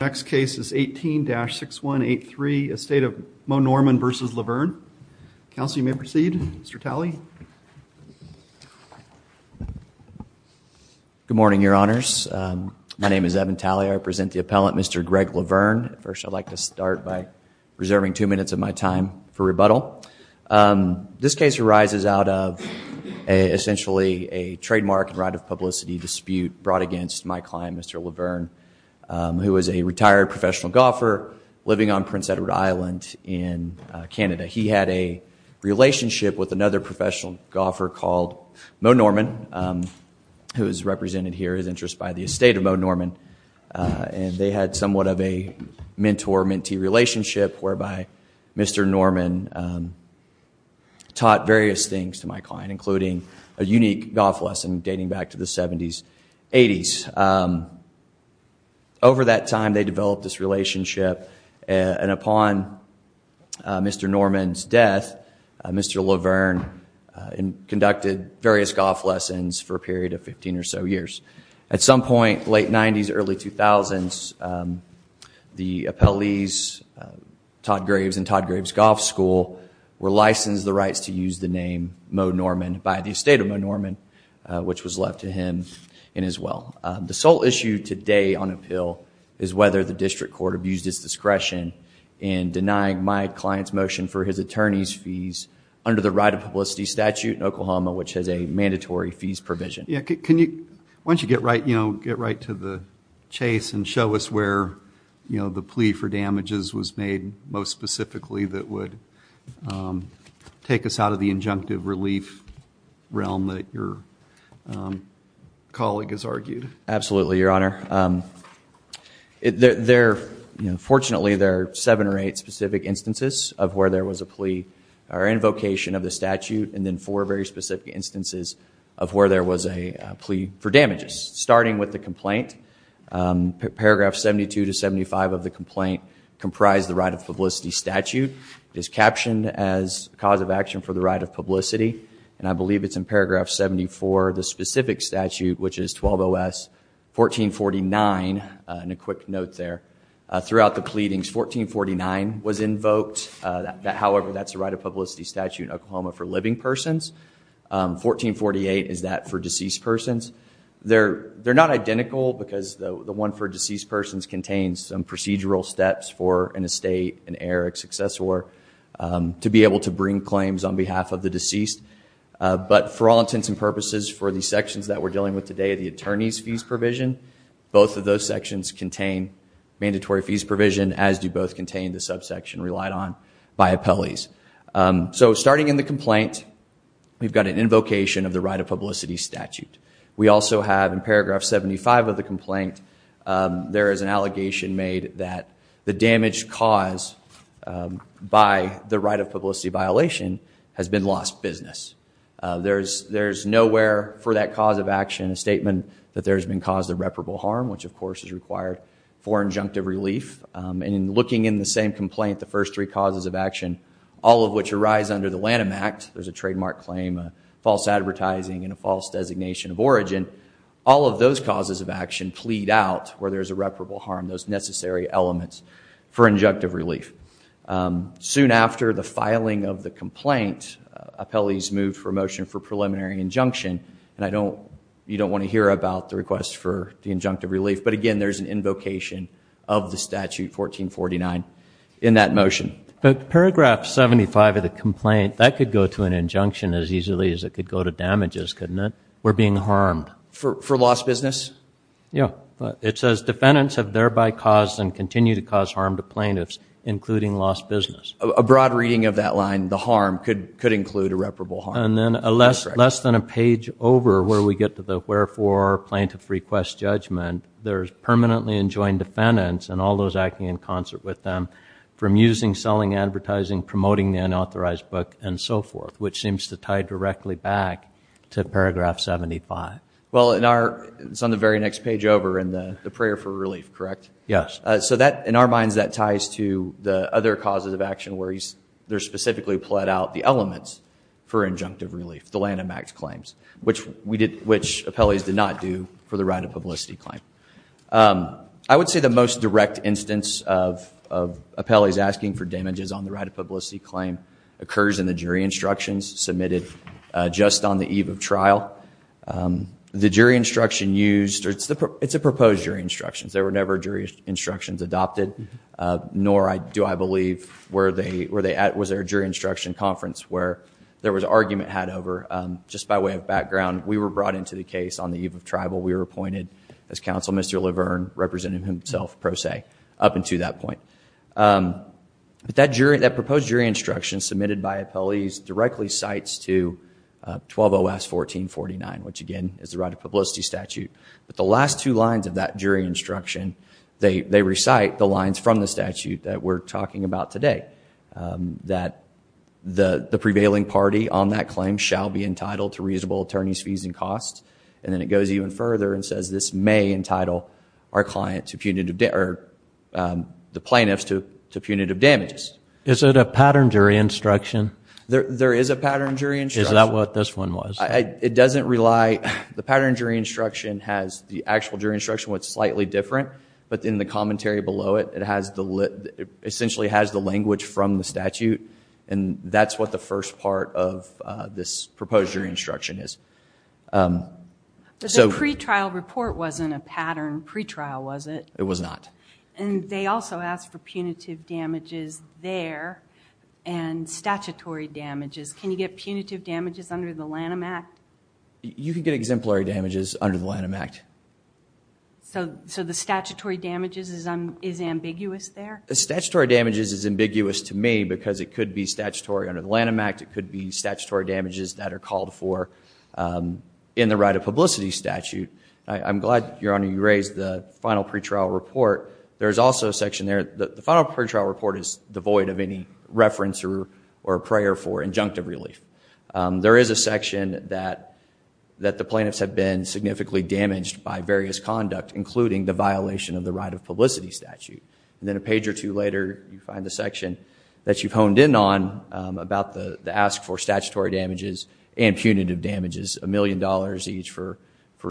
Next case is 18-6183, Estate of Moe Norman v. Lavern. Counsel, you may proceed. Mr. Talley. Good morning, your honors. My name is Evan Talley. I present the appellant, Mr. Greg Lavern. First, I'd like to start by reserving two minutes of my time for rebuttal. This case arises out of, essentially, a trademark and right of publicity dispute brought against my client, Mr. Lavern, who was a retired professional golfer living on Prince Edward Island in Canada. He had a relationship with another professional golfer called Moe Norman, who is represented here, his interest by the Estate of Moe Norman. And they had somewhat of a mentor-mentee relationship, whereby Mr. Norman taught various things to my client, including a unique golf lesson dating back to the 70s, 80s. Over that time, they developed this relationship. And upon Mr. Norman's death, Mr. Lavern conducted various golf lessons for a period of 15 or so years. At some point, late 90s, early 2000s, the appellees, Todd Graves and Todd Graves Golf School, were licensed the rights to use the name Moe Norman by the Estate of Moe Norman, which was left to him in his will. The sole issue today on appeal is whether the district court abused its discretion in denying my client's motion for his attorney's fees under the right of publicity statute in Oklahoma, which has a mandatory fees provision. Why don't you get right to the chase and show us where the plea for damages was made most specifically that would take us out of the injunctive relief realm that your colleague has argued? Absolutely, Your Honor. Fortunately, there are seven or eight specific instances of where there was a plea or invocation of the statute, and then four very specific instances of where there was a plea for damages. Starting with the complaint, paragraph 72 to 75 of the complaint comprised the right of publicity statute. It is captioned as cause of action for the right of publicity, and I believe it's in paragraph 74 of the specific statute, which is 120S 1449, and a quick note there. Throughout the pleadings, 1449 was invoked. However, that's the right of publicity statute in Oklahoma for living persons. 1448 is that for deceased persons. They're not identical, because the one for deceased persons contains some procedural steps for an estate, an heir, a successor, to be able to bring claims on behalf of the deceased. But for all intents and purposes, for the sections that we're dealing with today, the attorney's fees provision, both of those sections contain mandatory fees provision, as do both contain the subsection relied on by appellees. So starting in the complaint, we've got an invocation of the right of publicity statute. We also have, in paragraph 75 of the complaint, there is an allegation made that the damaged cause by the right of publicity violation has been lost business. There is nowhere for that cause of action a statement that there has been caused irreparable harm, which of course is required for injunctive relief. And in looking in the same complaint, the first three causes of action, all of which arise under the Lanham Act, there's a trademark claim, a false advertising, and a false designation of origin, all of those causes of action plead out where there's irreparable harm, those necessary elements for injunctive relief. Soon after the filing of the complaint, appellees move for a motion for preliminary injunction. And you don't want to hear about the request for the injunctive relief. But again, there's an invocation of the statute 1449 in that motion. But paragraph 75 of the complaint, that could go to an injunction as easily as it could go to damages, couldn't it? We're being harmed. For lost business? Yeah. It says defendants have thereby caused and continue to cause harm to plaintiffs, including lost business. A broad reading of that line, the harm, could include irreparable harm. And then less than a page over, where we get to the wherefore plaintiff requests judgment, there's permanently enjoined defendants and all those acting in concert with them from using, selling, advertising, promoting the unauthorized book, and so forth, which seems to tie directly back to paragraph 75. Well, it's on the very next page over in the prayer for relief, correct? Yes. So in our minds, that ties to the other causes of action where they're specifically plead out the elements for injunctive relief, the Lanham Act claims, which appellees did not do for the right of publicity claim. I would say the most direct instance of appellees asking for damages on the right of publicity claim occurs in the jury instructions submitted just on the eve of trial. The jury instruction used, it's a proposed jury instructions. There were never jury instructions adopted, nor do I believe, was there a jury instruction conference where there was argument had over. Just by way of background, we were brought into the case on the eve of tribal. We were appointed as counsel, Mr. Laverne, representing himself, pro se, up until that point. But that jury, that proposed jury instruction submitted by appellees, directly cites to 120S.1449, which again, is the right of publicity statute. But the last two lines of that jury instruction, they recite the lines from the statute that we're talking about today. That the prevailing party on that claim shall be entitled to reasonable attorney's fees and costs. And then it goes even further and says this may entitle our client to punitive, or the plaintiffs to punitive damages. Is it a pattern jury instruction? There is a pattern jury instruction. Is that what this one was? It doesn't rely, the pattern jury instruction has the actual jury instruction, what's slightly different. But in the commentary below it, it essentially has the language from the statute. And that's what the first part of this proposed jury instruction is. But the pretrial report wasn't a pattern pretrial, was it? It was not. And they also asked for punitive damages there, and statutory damages. Can you get punitive damages under the Lanham Act? You can get exemplary damages under the Lanham Act. So the statutory damages is ambiguous there? The statutory damages is ambiguous to me, because it could be statutory under the Lanham Act, it could be statutory damages that are called for in the right of publicity statute. I'm glad, Your Honor, you raised the final pretrial report. There's also a section there, the final pretrial report is devoid of any reference or prayer for injunctive relief. There is a section that the plaintiffs have been significantly damaged by various conduct, including the violation of the right of publicity statute. And then a page or two later, you find the section that you've honed in about the ask for statutory damages and punitive damages, a million dollars each for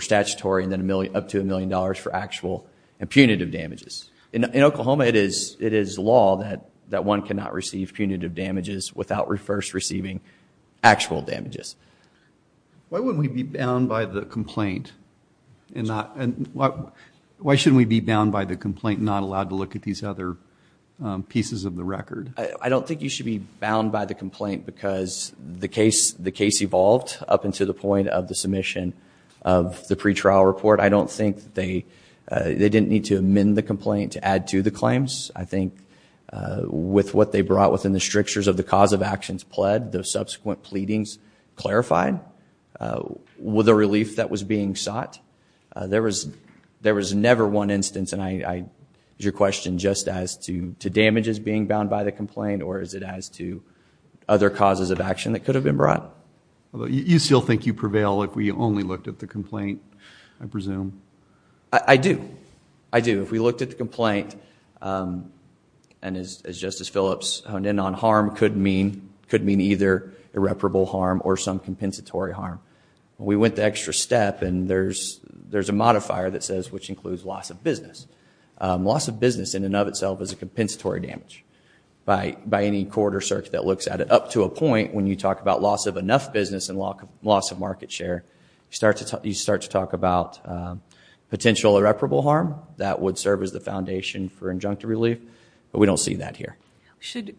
statutory, and then up to a million dollars for actual and punitive damages. In Oklahoma, it is law that one cannot receive punitive damages without first receiving actual damages. Why wouldn't we be bound by the complaint, and why shouldn't we be bound by the complaint and not allowed to look at these other pieces of the record? I don't think you should be bound by the complaint because the case evolved up until the point of the submission of the pretrial report. I don't think they didn't need to amend the complaint to add to the claims. I think with what they brought within the strictures of the cause of actions pled, the subsequent pleadings clarified the relief that was being sought. There was never one instance, and I use your question just as to damages being bound by the complaint, or is it as to other causes of action that could have been brought? You still think you prevail if we only looked at the complaint, I presume? I do. I do. If we looked at the complaint, and as Justice Phillips honed in on, harm could mean either irreparable harm or some compensatory harm. We went the extra step, and there's a modifier that says, which includes loss of business. Loss of business in and of itself is a compensatory damage. By any court or circuit that looks at it up to a point when you talk about loss of enough business and loss of market share, you start to talk about potential irreparable harm. That would serve as the foundation for injunctive relief, but we don't see that here. Should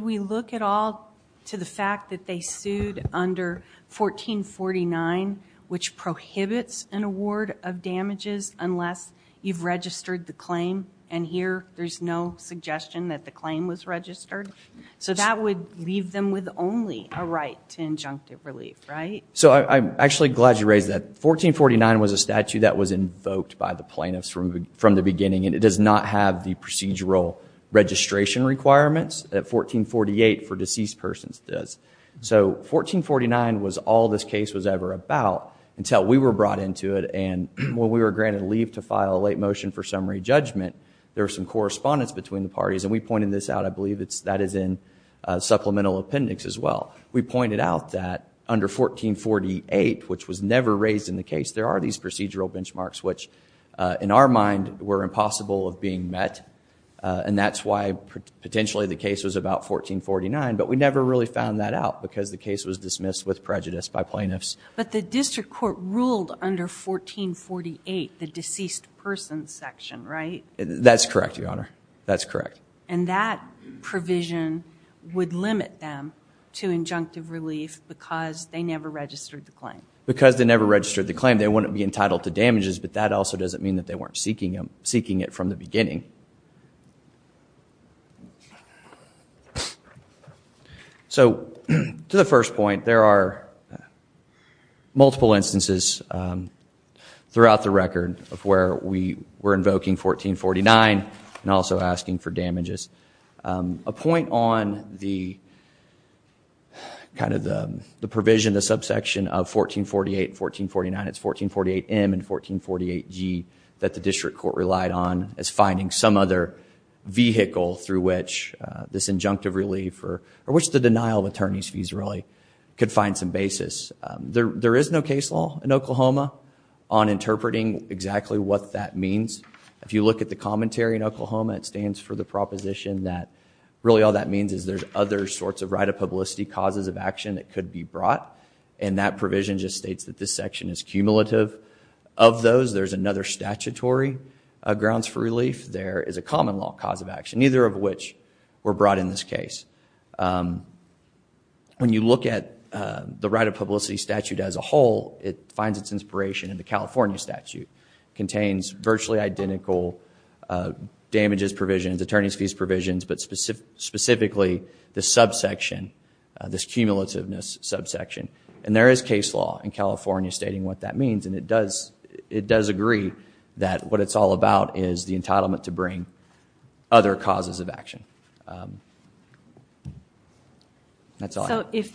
we look at all to the fact that they sued under 1449, which prohibits an award of damages unless you've registered the claim, and here there's no suggestion that the claim was registered? So that would leave them with only a right to injunctive relief, right? So I'm actually glad you raised that. 1449 was a statute that was invoked by the plaintiffs from the beginning, and it does not have the procedural registration requirements that 1448 for deceased persons does. So 1449 was all this case was ever about until we were brought into it. And when we were granted leave to file a late motion for summary judgment, there were some correspondence between the parties. And we pointed this out. I believe that is in supplemental appendix as well. We pointed out that under 1448, which was never raised in the case, there are these procedural benchmarks which, in our mind, were impossible of being met. And that's why potentially the case was about 1449, but we never really found that out because the case was dismissed with prejudice by plaintiffs. But the district court ruled under 1448, the deceased persons section, right? That's correct, Your Honor. That's correct. And that provision would limit them to injunctive relief because they never registered the claim. Because they never registered the claim, they wouldn't be entitled to damages, but that also doesn't mean that they weren't seeking it from the beginning. So to the first point, there are multiple instances throughout the record of where we were invoking 1449 and also asking for damages. A point on the provision, the subsection of 1448, 1449, it's 1448M and 1448G that the district court relied on as finding subsection. Some other vehicle through which this injunctive relief or which the denial of attorney's fees really could find some basis. There is no case law in Oklahoma on interpreting exactly what that means. If you look at the commentary in Oklahoma, it stands for the proposition that really all that means is there's other sorts of right of publicity causes of action that could be brought. And that provision just states that this section is cumulative of those. There's another statutory grounds for relief. There is a common law cause of action, neither of which were brought in this case. When you look at the right of publicity statute as a whole, it finds its inspiration in the California statute. Contains virtually identical damages provisions, attorney's fees provisions, but specifically the subsection, this cumulativeness subsection. And there is case law in California stating what that means. And it does agree that what it's all about is the entitlement to bring other causes of action. That's all. So if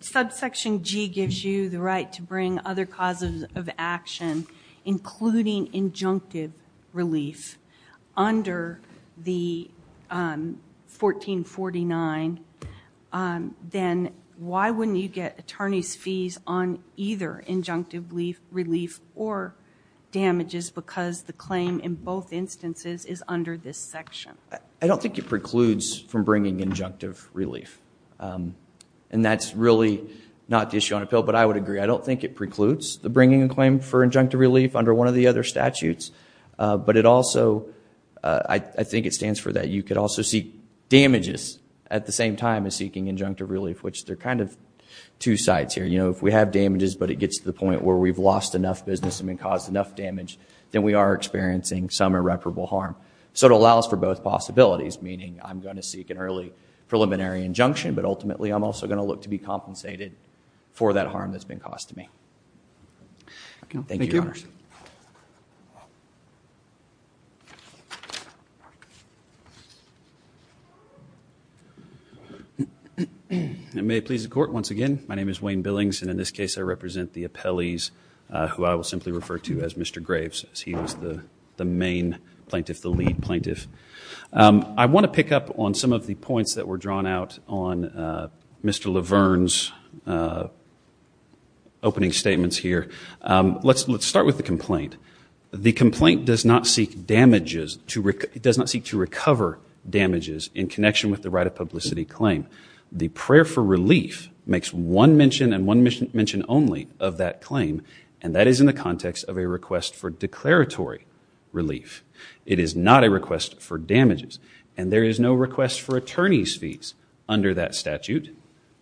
subsection G gives you the right to bring other causes of action, including injunctive relief under the 1449, then why wouldn't you get attorney's fees on either injunctive relief or damages? Because the claim in both instances is under this section. I don't think it precludes from bringing injunctive relief. And that's really not the issue on appeal, but I would agree. I don't think it precludes the bringing a claim for injunctive relief under one of the other statutes. But it also, I think it stands for that you could also seek damages at the same time as seeking injunctive relief, which there are kind of two sides here. If we have damages, but it gets to the point where we've lost enough business and caused enough damage, then we are experiencing some irreparable harm. So it allows for both possibilities, meaning I'm going to seek an early preliminary injunction, but ultimately, I'm also going to look to be compensated for that harm that's been caused to me. Thank you, Your Honors. And may it please the court, once again, my name is Wayne Billings. And in this case, I represent the appellees who I will simply refer to as Mr. Graves, as he was the main plaintiff, the lead plaintiff. I want to pick up on some of the points that were drawn out on Mr. Laverne's opening statements here. Let's start with the complaint. The complaint does not seek damages to recover damages in connection with the right of publicity claim. The prayer for relief makes one mention and one mention only of that claim. And that is in the context of a request for declaratory relief. It is not a request for damages. And there is no request for attorney's fees under that statute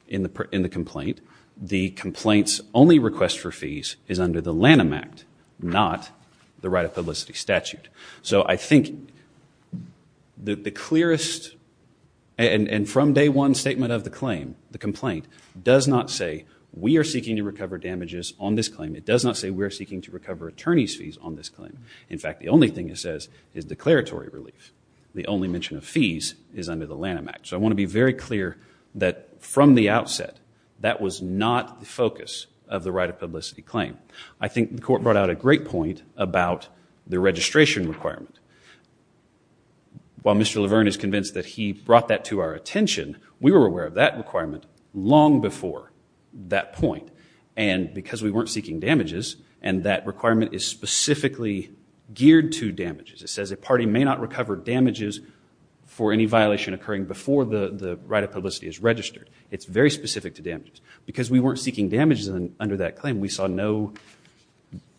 in the complaint. The complaint's only request for fees is under the Lanham Act, not the right of publicity statute. So I think that the clearest and from day one statement of the claim, the complaint does not say we are seeking to recover damages on this claim. It does not say we're seeking to recover attorney's fees on this claim. In fact, the only thing it says is declaratory relief. The only mention of fees is under the Lanham Act. So I want to be very clear that from the outset, that was not the focus of the right of publicity claim. I think the court brought out a great point about the registration requirement. While Mr. Laverne is convinced that he brought that to our attention, we were aware of that requirement long before that point. And because we weren't seeking damages, and that requirement is specifically geared to damages. It says a party may not recover damages for any violation occurring before the right of publicity is registered. It's very specific to damages. Because we weren't seeking damages under that claim, we saw no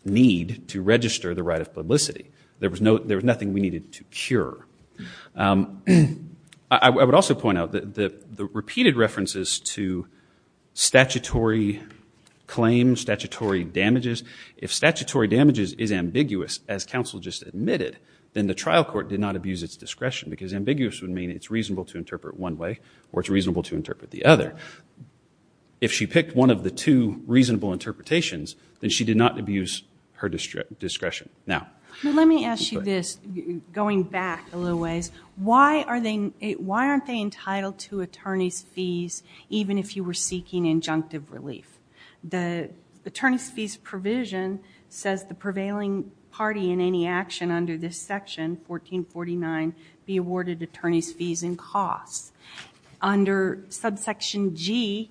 need to register the right of publicity. There was nothing we needed to cure. I would also point out that the repeated references to statutory claims, statutory damages, if statutory damages is ambiguous, as counsel just admitted, then the trial court did not abuse its discretion. Because ambiguous would mean it's reasonable to interpret one way, or it's reasonable to interpret the other. If she picked one of the two reasonable interpretations, then she did not abuse her discretion. Let me ask you this, going back a little ways. Why aren't they entitled to attorney's fees even if you were seeking injunctive relief? The attorney's fees provision says the prevailing party in any action under this section, 1449, be awarded attorney's fees and costs. Under subsection G,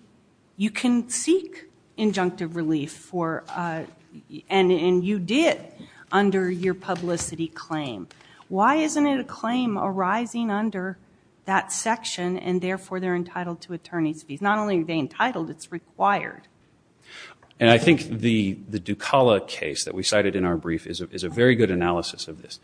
you can seek injunctive relief. And you did under your publicity claim. Why isn't it a claim arising under that section, and therefore they're entitled to attorney's fees? Not only are they entitled, it's required. And I think the Ducala case that we cited in our brief is a very good analysis of this.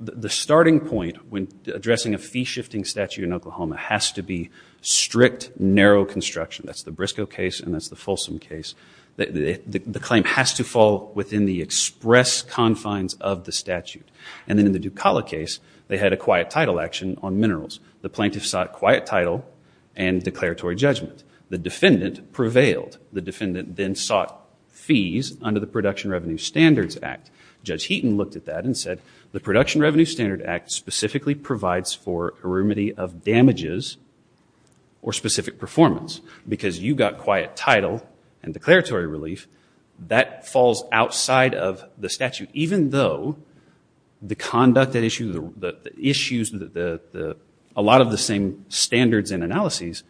The starting point when addressing a fee shifting statute in Oklahoma has to be strict, narrow construction. That's the Briscoe case, and that's the Folsom case. The claim has to fall within the express confines of the statute. And then in the Ducala case, they had a quiet title action on minerals. The plaintiff sought quiet title and declaratory judgment. The defendant prevailed. The defendant then sought fees under the Production Revenue Standards Act. Judge Heaton looked at that and said, the Production Revenue Standard Act specifically provides for a remedy of damages or specific performance because you got quiet title and declaratory relief. That falls outside of the statute, even though the conduct issue, a lot of the same standards and analyses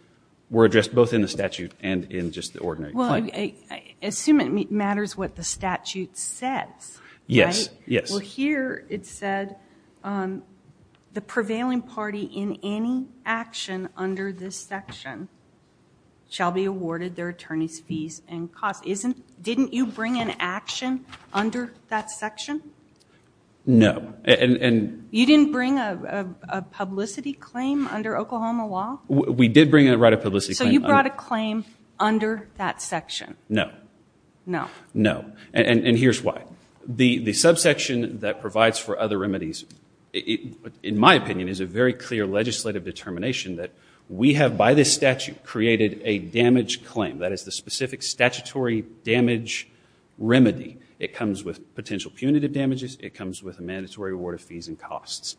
were addressed both in the statute and in just the ordinary claim. I assume it matters what the statute says, right? Yes. Yes. Well, here it said, the prevailing party in any action under this section shall be awarded their attorney's fees and costs. Didn't you bring an action under that section? No. You didn't bring a publicity claim under Oklahoma law? We did bring a right of publicity claim. So you brought a claim under that section? No. No. No. And here's why. The subsection that provides for other remedies, in my opinion, is a very clear legislative determination that we have, by this statute, created a damage claim. That is the specific statutory damage remedy. It comes with potential punitive damages. It comes with a mandatory award of fees and costs.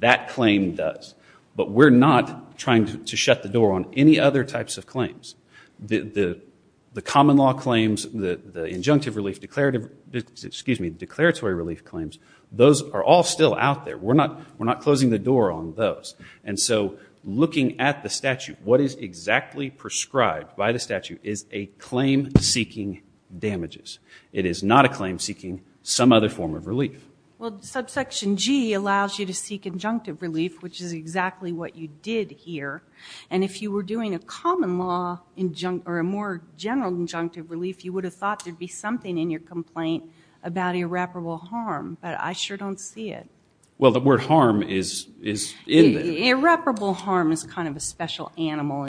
That claim does. But we're not trying to shut the door on any other types of claims. The common law claims, the injunctive relief declarative, excuse me, declaratory relief claims, those are all still out there. We're not closing the door on those. And so looking at the statute, what is exactly prescribed by the statute is a claim seeking damages. It is not a claim seeking some other form of relief. Well, subsection G allows you to seek injunctive relief, which is exactly what you did here. And if you were doing a common law injunct, or a more general injunctive relief, you would have thought there'd be something in your complaint about irreparable harm. But I sure don't see it. Well, the word harm is in there. Irreparable harm is kind of a special animal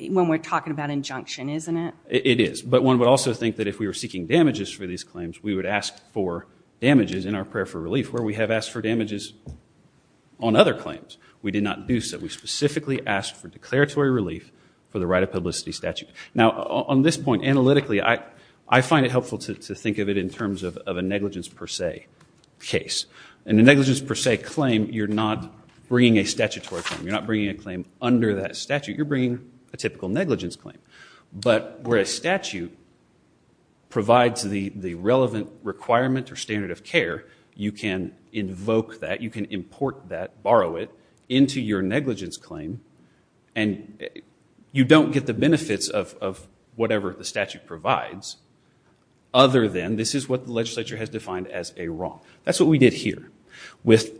when we're talking about injunction, isn't it? It is. But one would also think that if we were seeking damages for these claims, we would ask for damages in our prayer for relief, where we have asked for damages on other claims. We did not do so. We specifically asked for declaratory relief for the right of publicity statute. Now, on this point, analytically, I find it helpful to think of it in terms of a negligence per se case. In a negligence per se claim, you're not bringing a statutory claim. You're not bringing a claim under that statute. You're bringing a typical negligence claim. But where a statute provides the relevant requirement or standard of care, you can invoke that. You can import that, borrow it, into your negligence claim. And you don't get the benefits of whatever the statute provides, other than this is what the legislature has defined as a wrong. That's what we did here with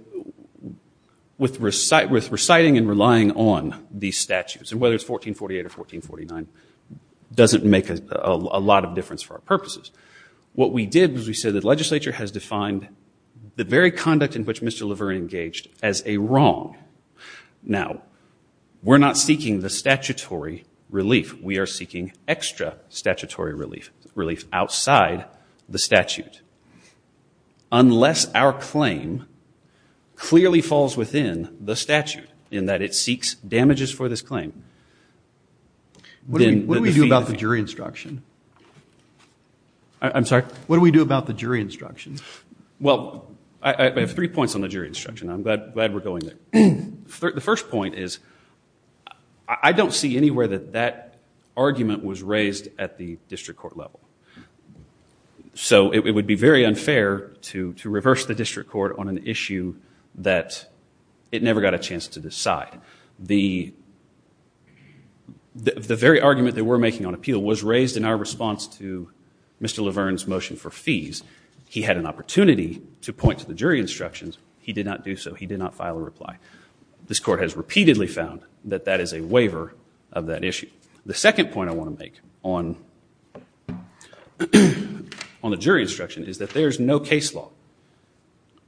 reciting and relying on these statutes. And whether it's 1448 or 1449 doesn't make a lot of difference for our purposes. What we did was we said the legislature has defined the very conduct in which Mr. LaVerne engaged as a wrong. Now, we're not seeking the statutory relief. We are seeking extra statutory relief outside the statute, unless our claim clearly falls within the statute, in that it seeks damages for this claim. What do we do about the jury instruction? I'm sorry? What do we do about the jury instruction? Well, I have three points on the jury instruction. I'm glad we're going there. The first point is I don't see anywhere that that argument was raised at the district court level. So it would be very unfair to reverse the district court on an issue that it never got a chance to decide. The very argument that we're making on appeal was raised in our response to Mr. LaVerne's motion for fees. He had an opportunity to point to the jury instructions. He did not do so. He did not file a reply. This court has repeatedly found that that is a waiver of that issue. The second point I want to make on the jury instruction is that there is no case law,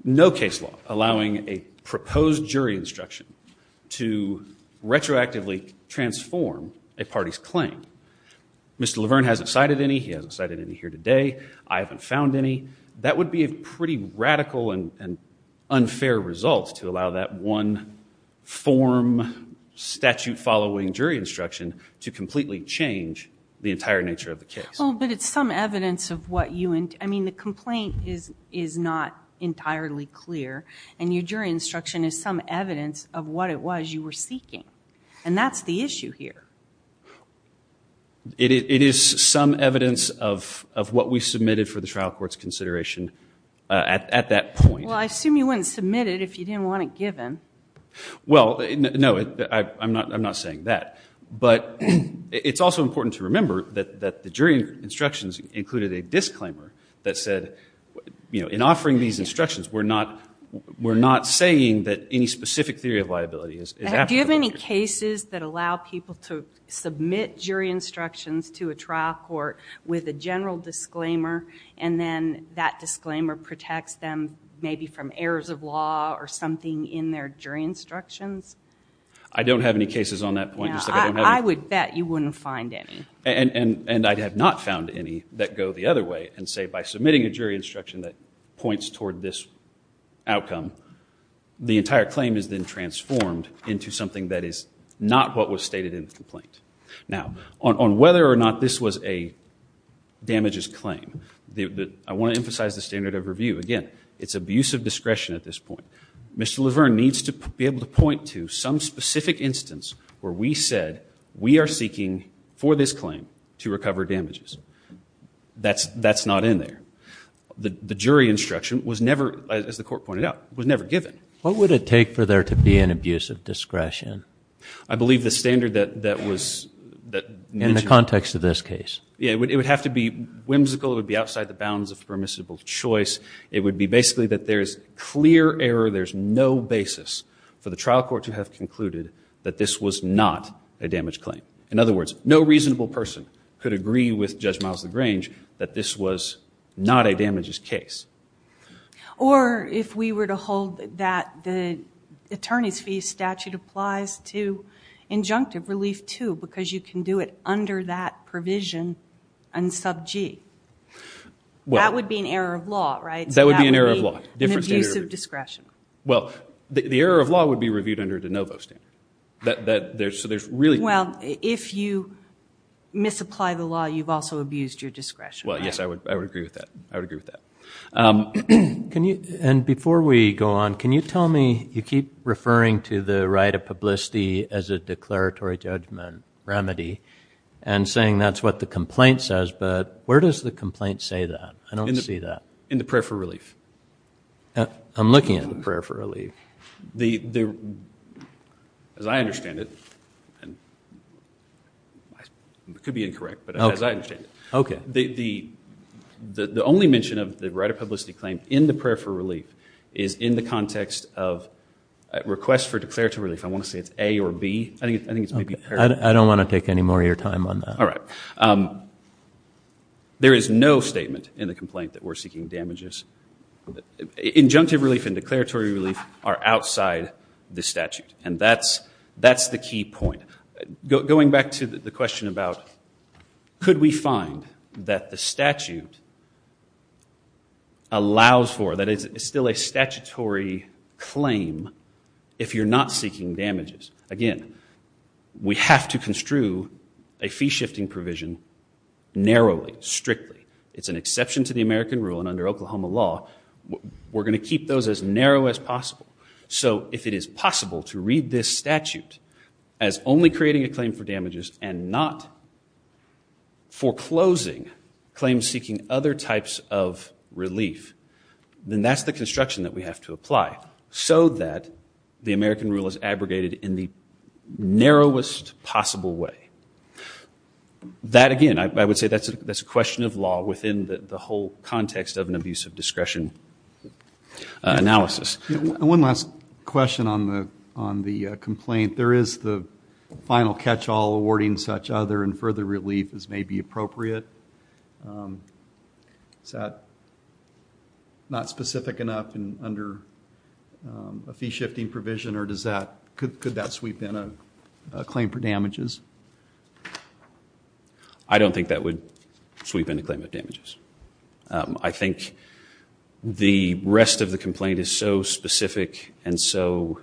no case law, allowing a proposed jury instruction to retroactively transform a party's claim. Mr. LaVerne hasn't cited any. He hasn't cited any here today. I haven't found any. That would be a pretty radical and unfair result to allow that one form statute following jury instruction to completely change the entire nature of the case. Well, but it's some evidence of what you and I mean, the complaint is not entirely clear. And your jury instruction is some evidence of what it was you were seeking. And that's the issue here. It is some evidence of what we submitted for the trial court's consideration at that point. Well, I assume you wouldn't submit it if you didn't want it given. Well, no, I'm not saying that. But it's also important to remember that the jury instructions included a disclaimer that said, in offering these instructions, we're not saying that any specific theory of liability is applicable. Do you have any cases that allow people to submit jury instructions to a trial court with a general disclaimer? And then that disclaimer protects them maybe from errors of law or something in their jury instructions? I don't have any cases on that point. I would bet you wouldn't find any. And I have not found any that go the other way and say, by submitting a jury instruction that points toward this outcome, the entire claim is then transformed into something that is not what was stated in the complaint. Now, on whether or not this was a damages claim, I want to emphasize the standard of review. Again, it's abuse of discretion at this point. Mr. Laverne needs to be able to point to some specific instance where we said we are seeking, for this claim, to recover damages. That's not in there. The jury instruction was never, as the court pointed out, was never given. What would it take for there to be an abuse of discretion? I believe the standard that was that mentioned In the context of this case. Yeah, it would have to be whimsical. It would be outside the bounds of permissible choice. It would be basically that there is clear error. There's no basis for the trial court to have concluded that this was not a damage claim. In other words, no reasonable person could agree with Judge Miles LaGrange that this was not a damages case. Or if we were to hold that the attorney's fee statute applies to injunctive relief, too, because you can do it under that provision and sub-G. That would be an error of law, right? That would be an error of law. Different standard of review. An abuse of discretion. Well, the error of law would be reviewed under de novo standard. Well, if you misapply the law, you've also abused your discretion. Well, yes, I would agree with that. I would agree with that. And before we go on, can you tell me, you keep referring to the right of publicity as a declaratory judgment remedy, and saying that's what the complaint says. But where does the complaint say that? I don't see that. In the prayer for relief. I'm looking at the prayer for relief. As I understand it, and it could be incorrect, but as I understand it, the only mention of the right of publicity claim in the prayer for relief is in the context of request for declaratory relief. I want to say it's A or B. I think it's maybe A or B. I don't want to take any more of your time on that. All right. There is no statement in the complaint that we're seeking damages. Injunctive relief and declaratory relief are outside the statute. And that's the key point. Going back to the question about could we find that the statute allows for, that it's still a statutory claim if you're not seeking damages. Again, we have to construe a fee shifting provision narrowly, strictly. It's an exception to the American rule, and under Oklahoma law, we're going to keep those as narrow as possible. So if it is possible to read this statute as only creating a claim for damages and not foreclosing claims seeking other types of relief, then that's the construction that we have to apply so that the American rule is abrogated in the narrowest possible way. That, again, I would say that's a question of law within the whole context of an abuse of discretion analysis. One last question on the complaint. There is the final catch all awarding such other and further relief as may be appropriate. Is that not specific enough under a fee shifting provision, or could that sweep in a claim for damages? I don't think that would sweep in a claim of damages. I think the rest of the complaint is so specific and so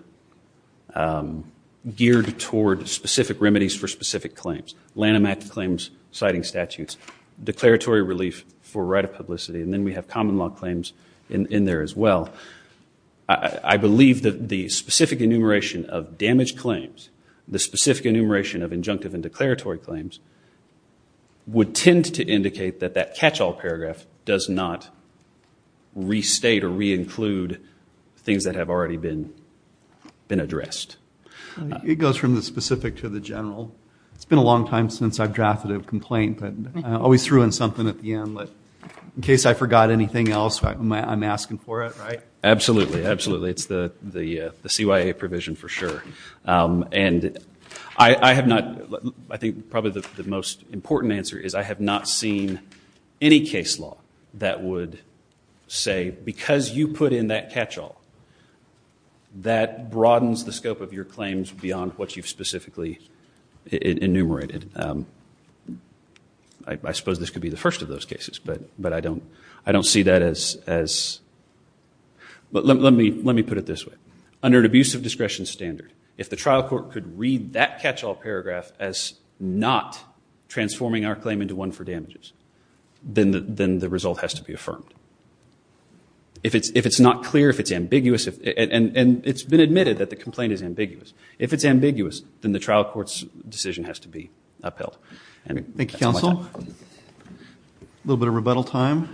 geared toward specific remedies for specific claims. Lanham Act claims, citing statutes, declaratory relief for right of publicity, and then we have common law claims in there as well. I believe that the specific enumeration of damaged claims, the specific enumeration of injunctive and declaratory claims, would tend to indicate that that catch all paragraph does not restate or re-include things that have already been addressed. It goes from the specific to the general. It's been a long time since I've drafted a complaint, but I always throw in something at the end. In case I forgot anything else, I'm asking for it, right? Absolutely, absolutely. It's the CYA provision for sure. And I have not, I think probably the most important answer is I have not seen any case law that would say, because you put in that catch all, that broadens the scope of your claims beyond what you've specifically enumerated. I suppose this could be the first of those cases, but I don't see that as, but let me put it this way. Under an abuse of discretion standard, if the trial court could read that catch all paragraph as not transforming our claim into one for damages, then the result has to be affirmed. If it's not clear, if it's ambiguous, and it's been admitted that the complaint is ambiguous, if it's ambiguous, then the trial court's decision has to be upheld. Thank you, counsel. A little bit of rebuttal time.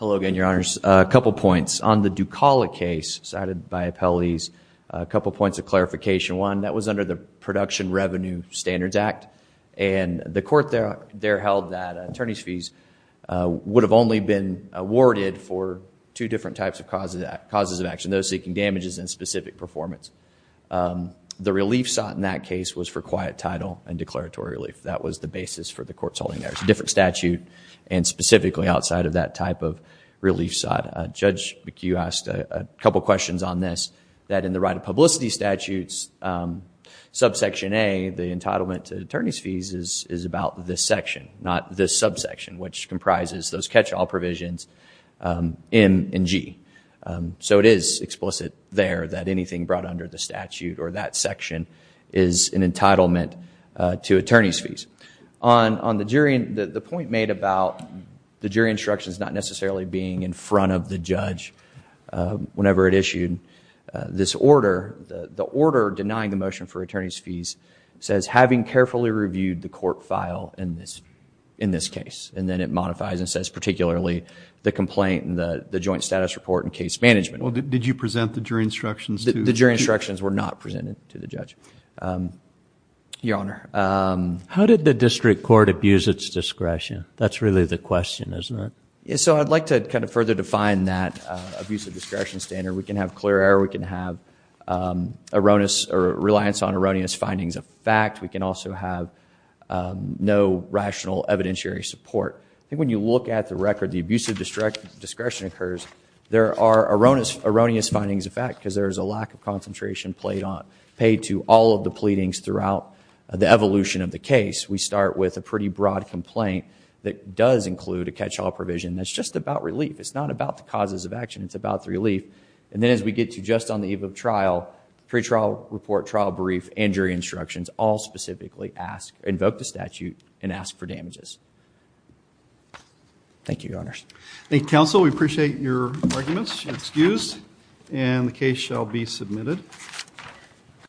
Hello again, your honors. A couple points. On the Ducalla case cited by appellees, a couple points of clarification. One, that was under the Production Revenue Standards Act, and the court there held that attorney's fees would have only been awarded for two different types of causes of action, those seeking damages and specific performance. The relief sought in that case was for quiet title and declaratory relief. That was the basis for the court's holding there. It's a different statute, and specifically outside of that type of relief sought. Judge McHugh asked a couple questions on this, that in the right of publicity statutes, subsection A, the entitlement to attorney's fees is about this section, not this subsection, which comprises those catch all provisions, M and G. So it is explicit there that anything brought under the statute or that section is an entitlement to attorney's fees. On the jury, the point made about the jury instructions not necessarily being in front of the judge whenever it issued this order, the order denying the motion for attorney's fees says, having carefully reviewed the court file in this case. And then it modifies and says, particularly the complaint and the joint status report and case management. Well, did you present the jury instructions to the judge? The jury instructions were not presented to the judge, your honor. How did the district court abuse its discretion? That's really the question, isn't it? So I'd like to further define that abuse of discretion standard. We can have clear error. We can have reliance on erroneous findings of fact. We can also have no rational evidentiary support. I think when you look at the record, the abuse of discretion occurs, there are erroneous findings of fact because there is a lack of concentration paid to all of the pleadings throughout the evolution of the case. We start with a pretty broad complaint that does include a catch-all provision that's just about relief. It's not about the causes of action. It's about the relief. And then as we get to just on the eve of trial, pretrial report, trial brief, and jury instructions all specifically invoke the statute and ask for damages. Thank you, your honors. Thank you, counsel. We appreciate your arguments and excuse. And the case shall be submitted.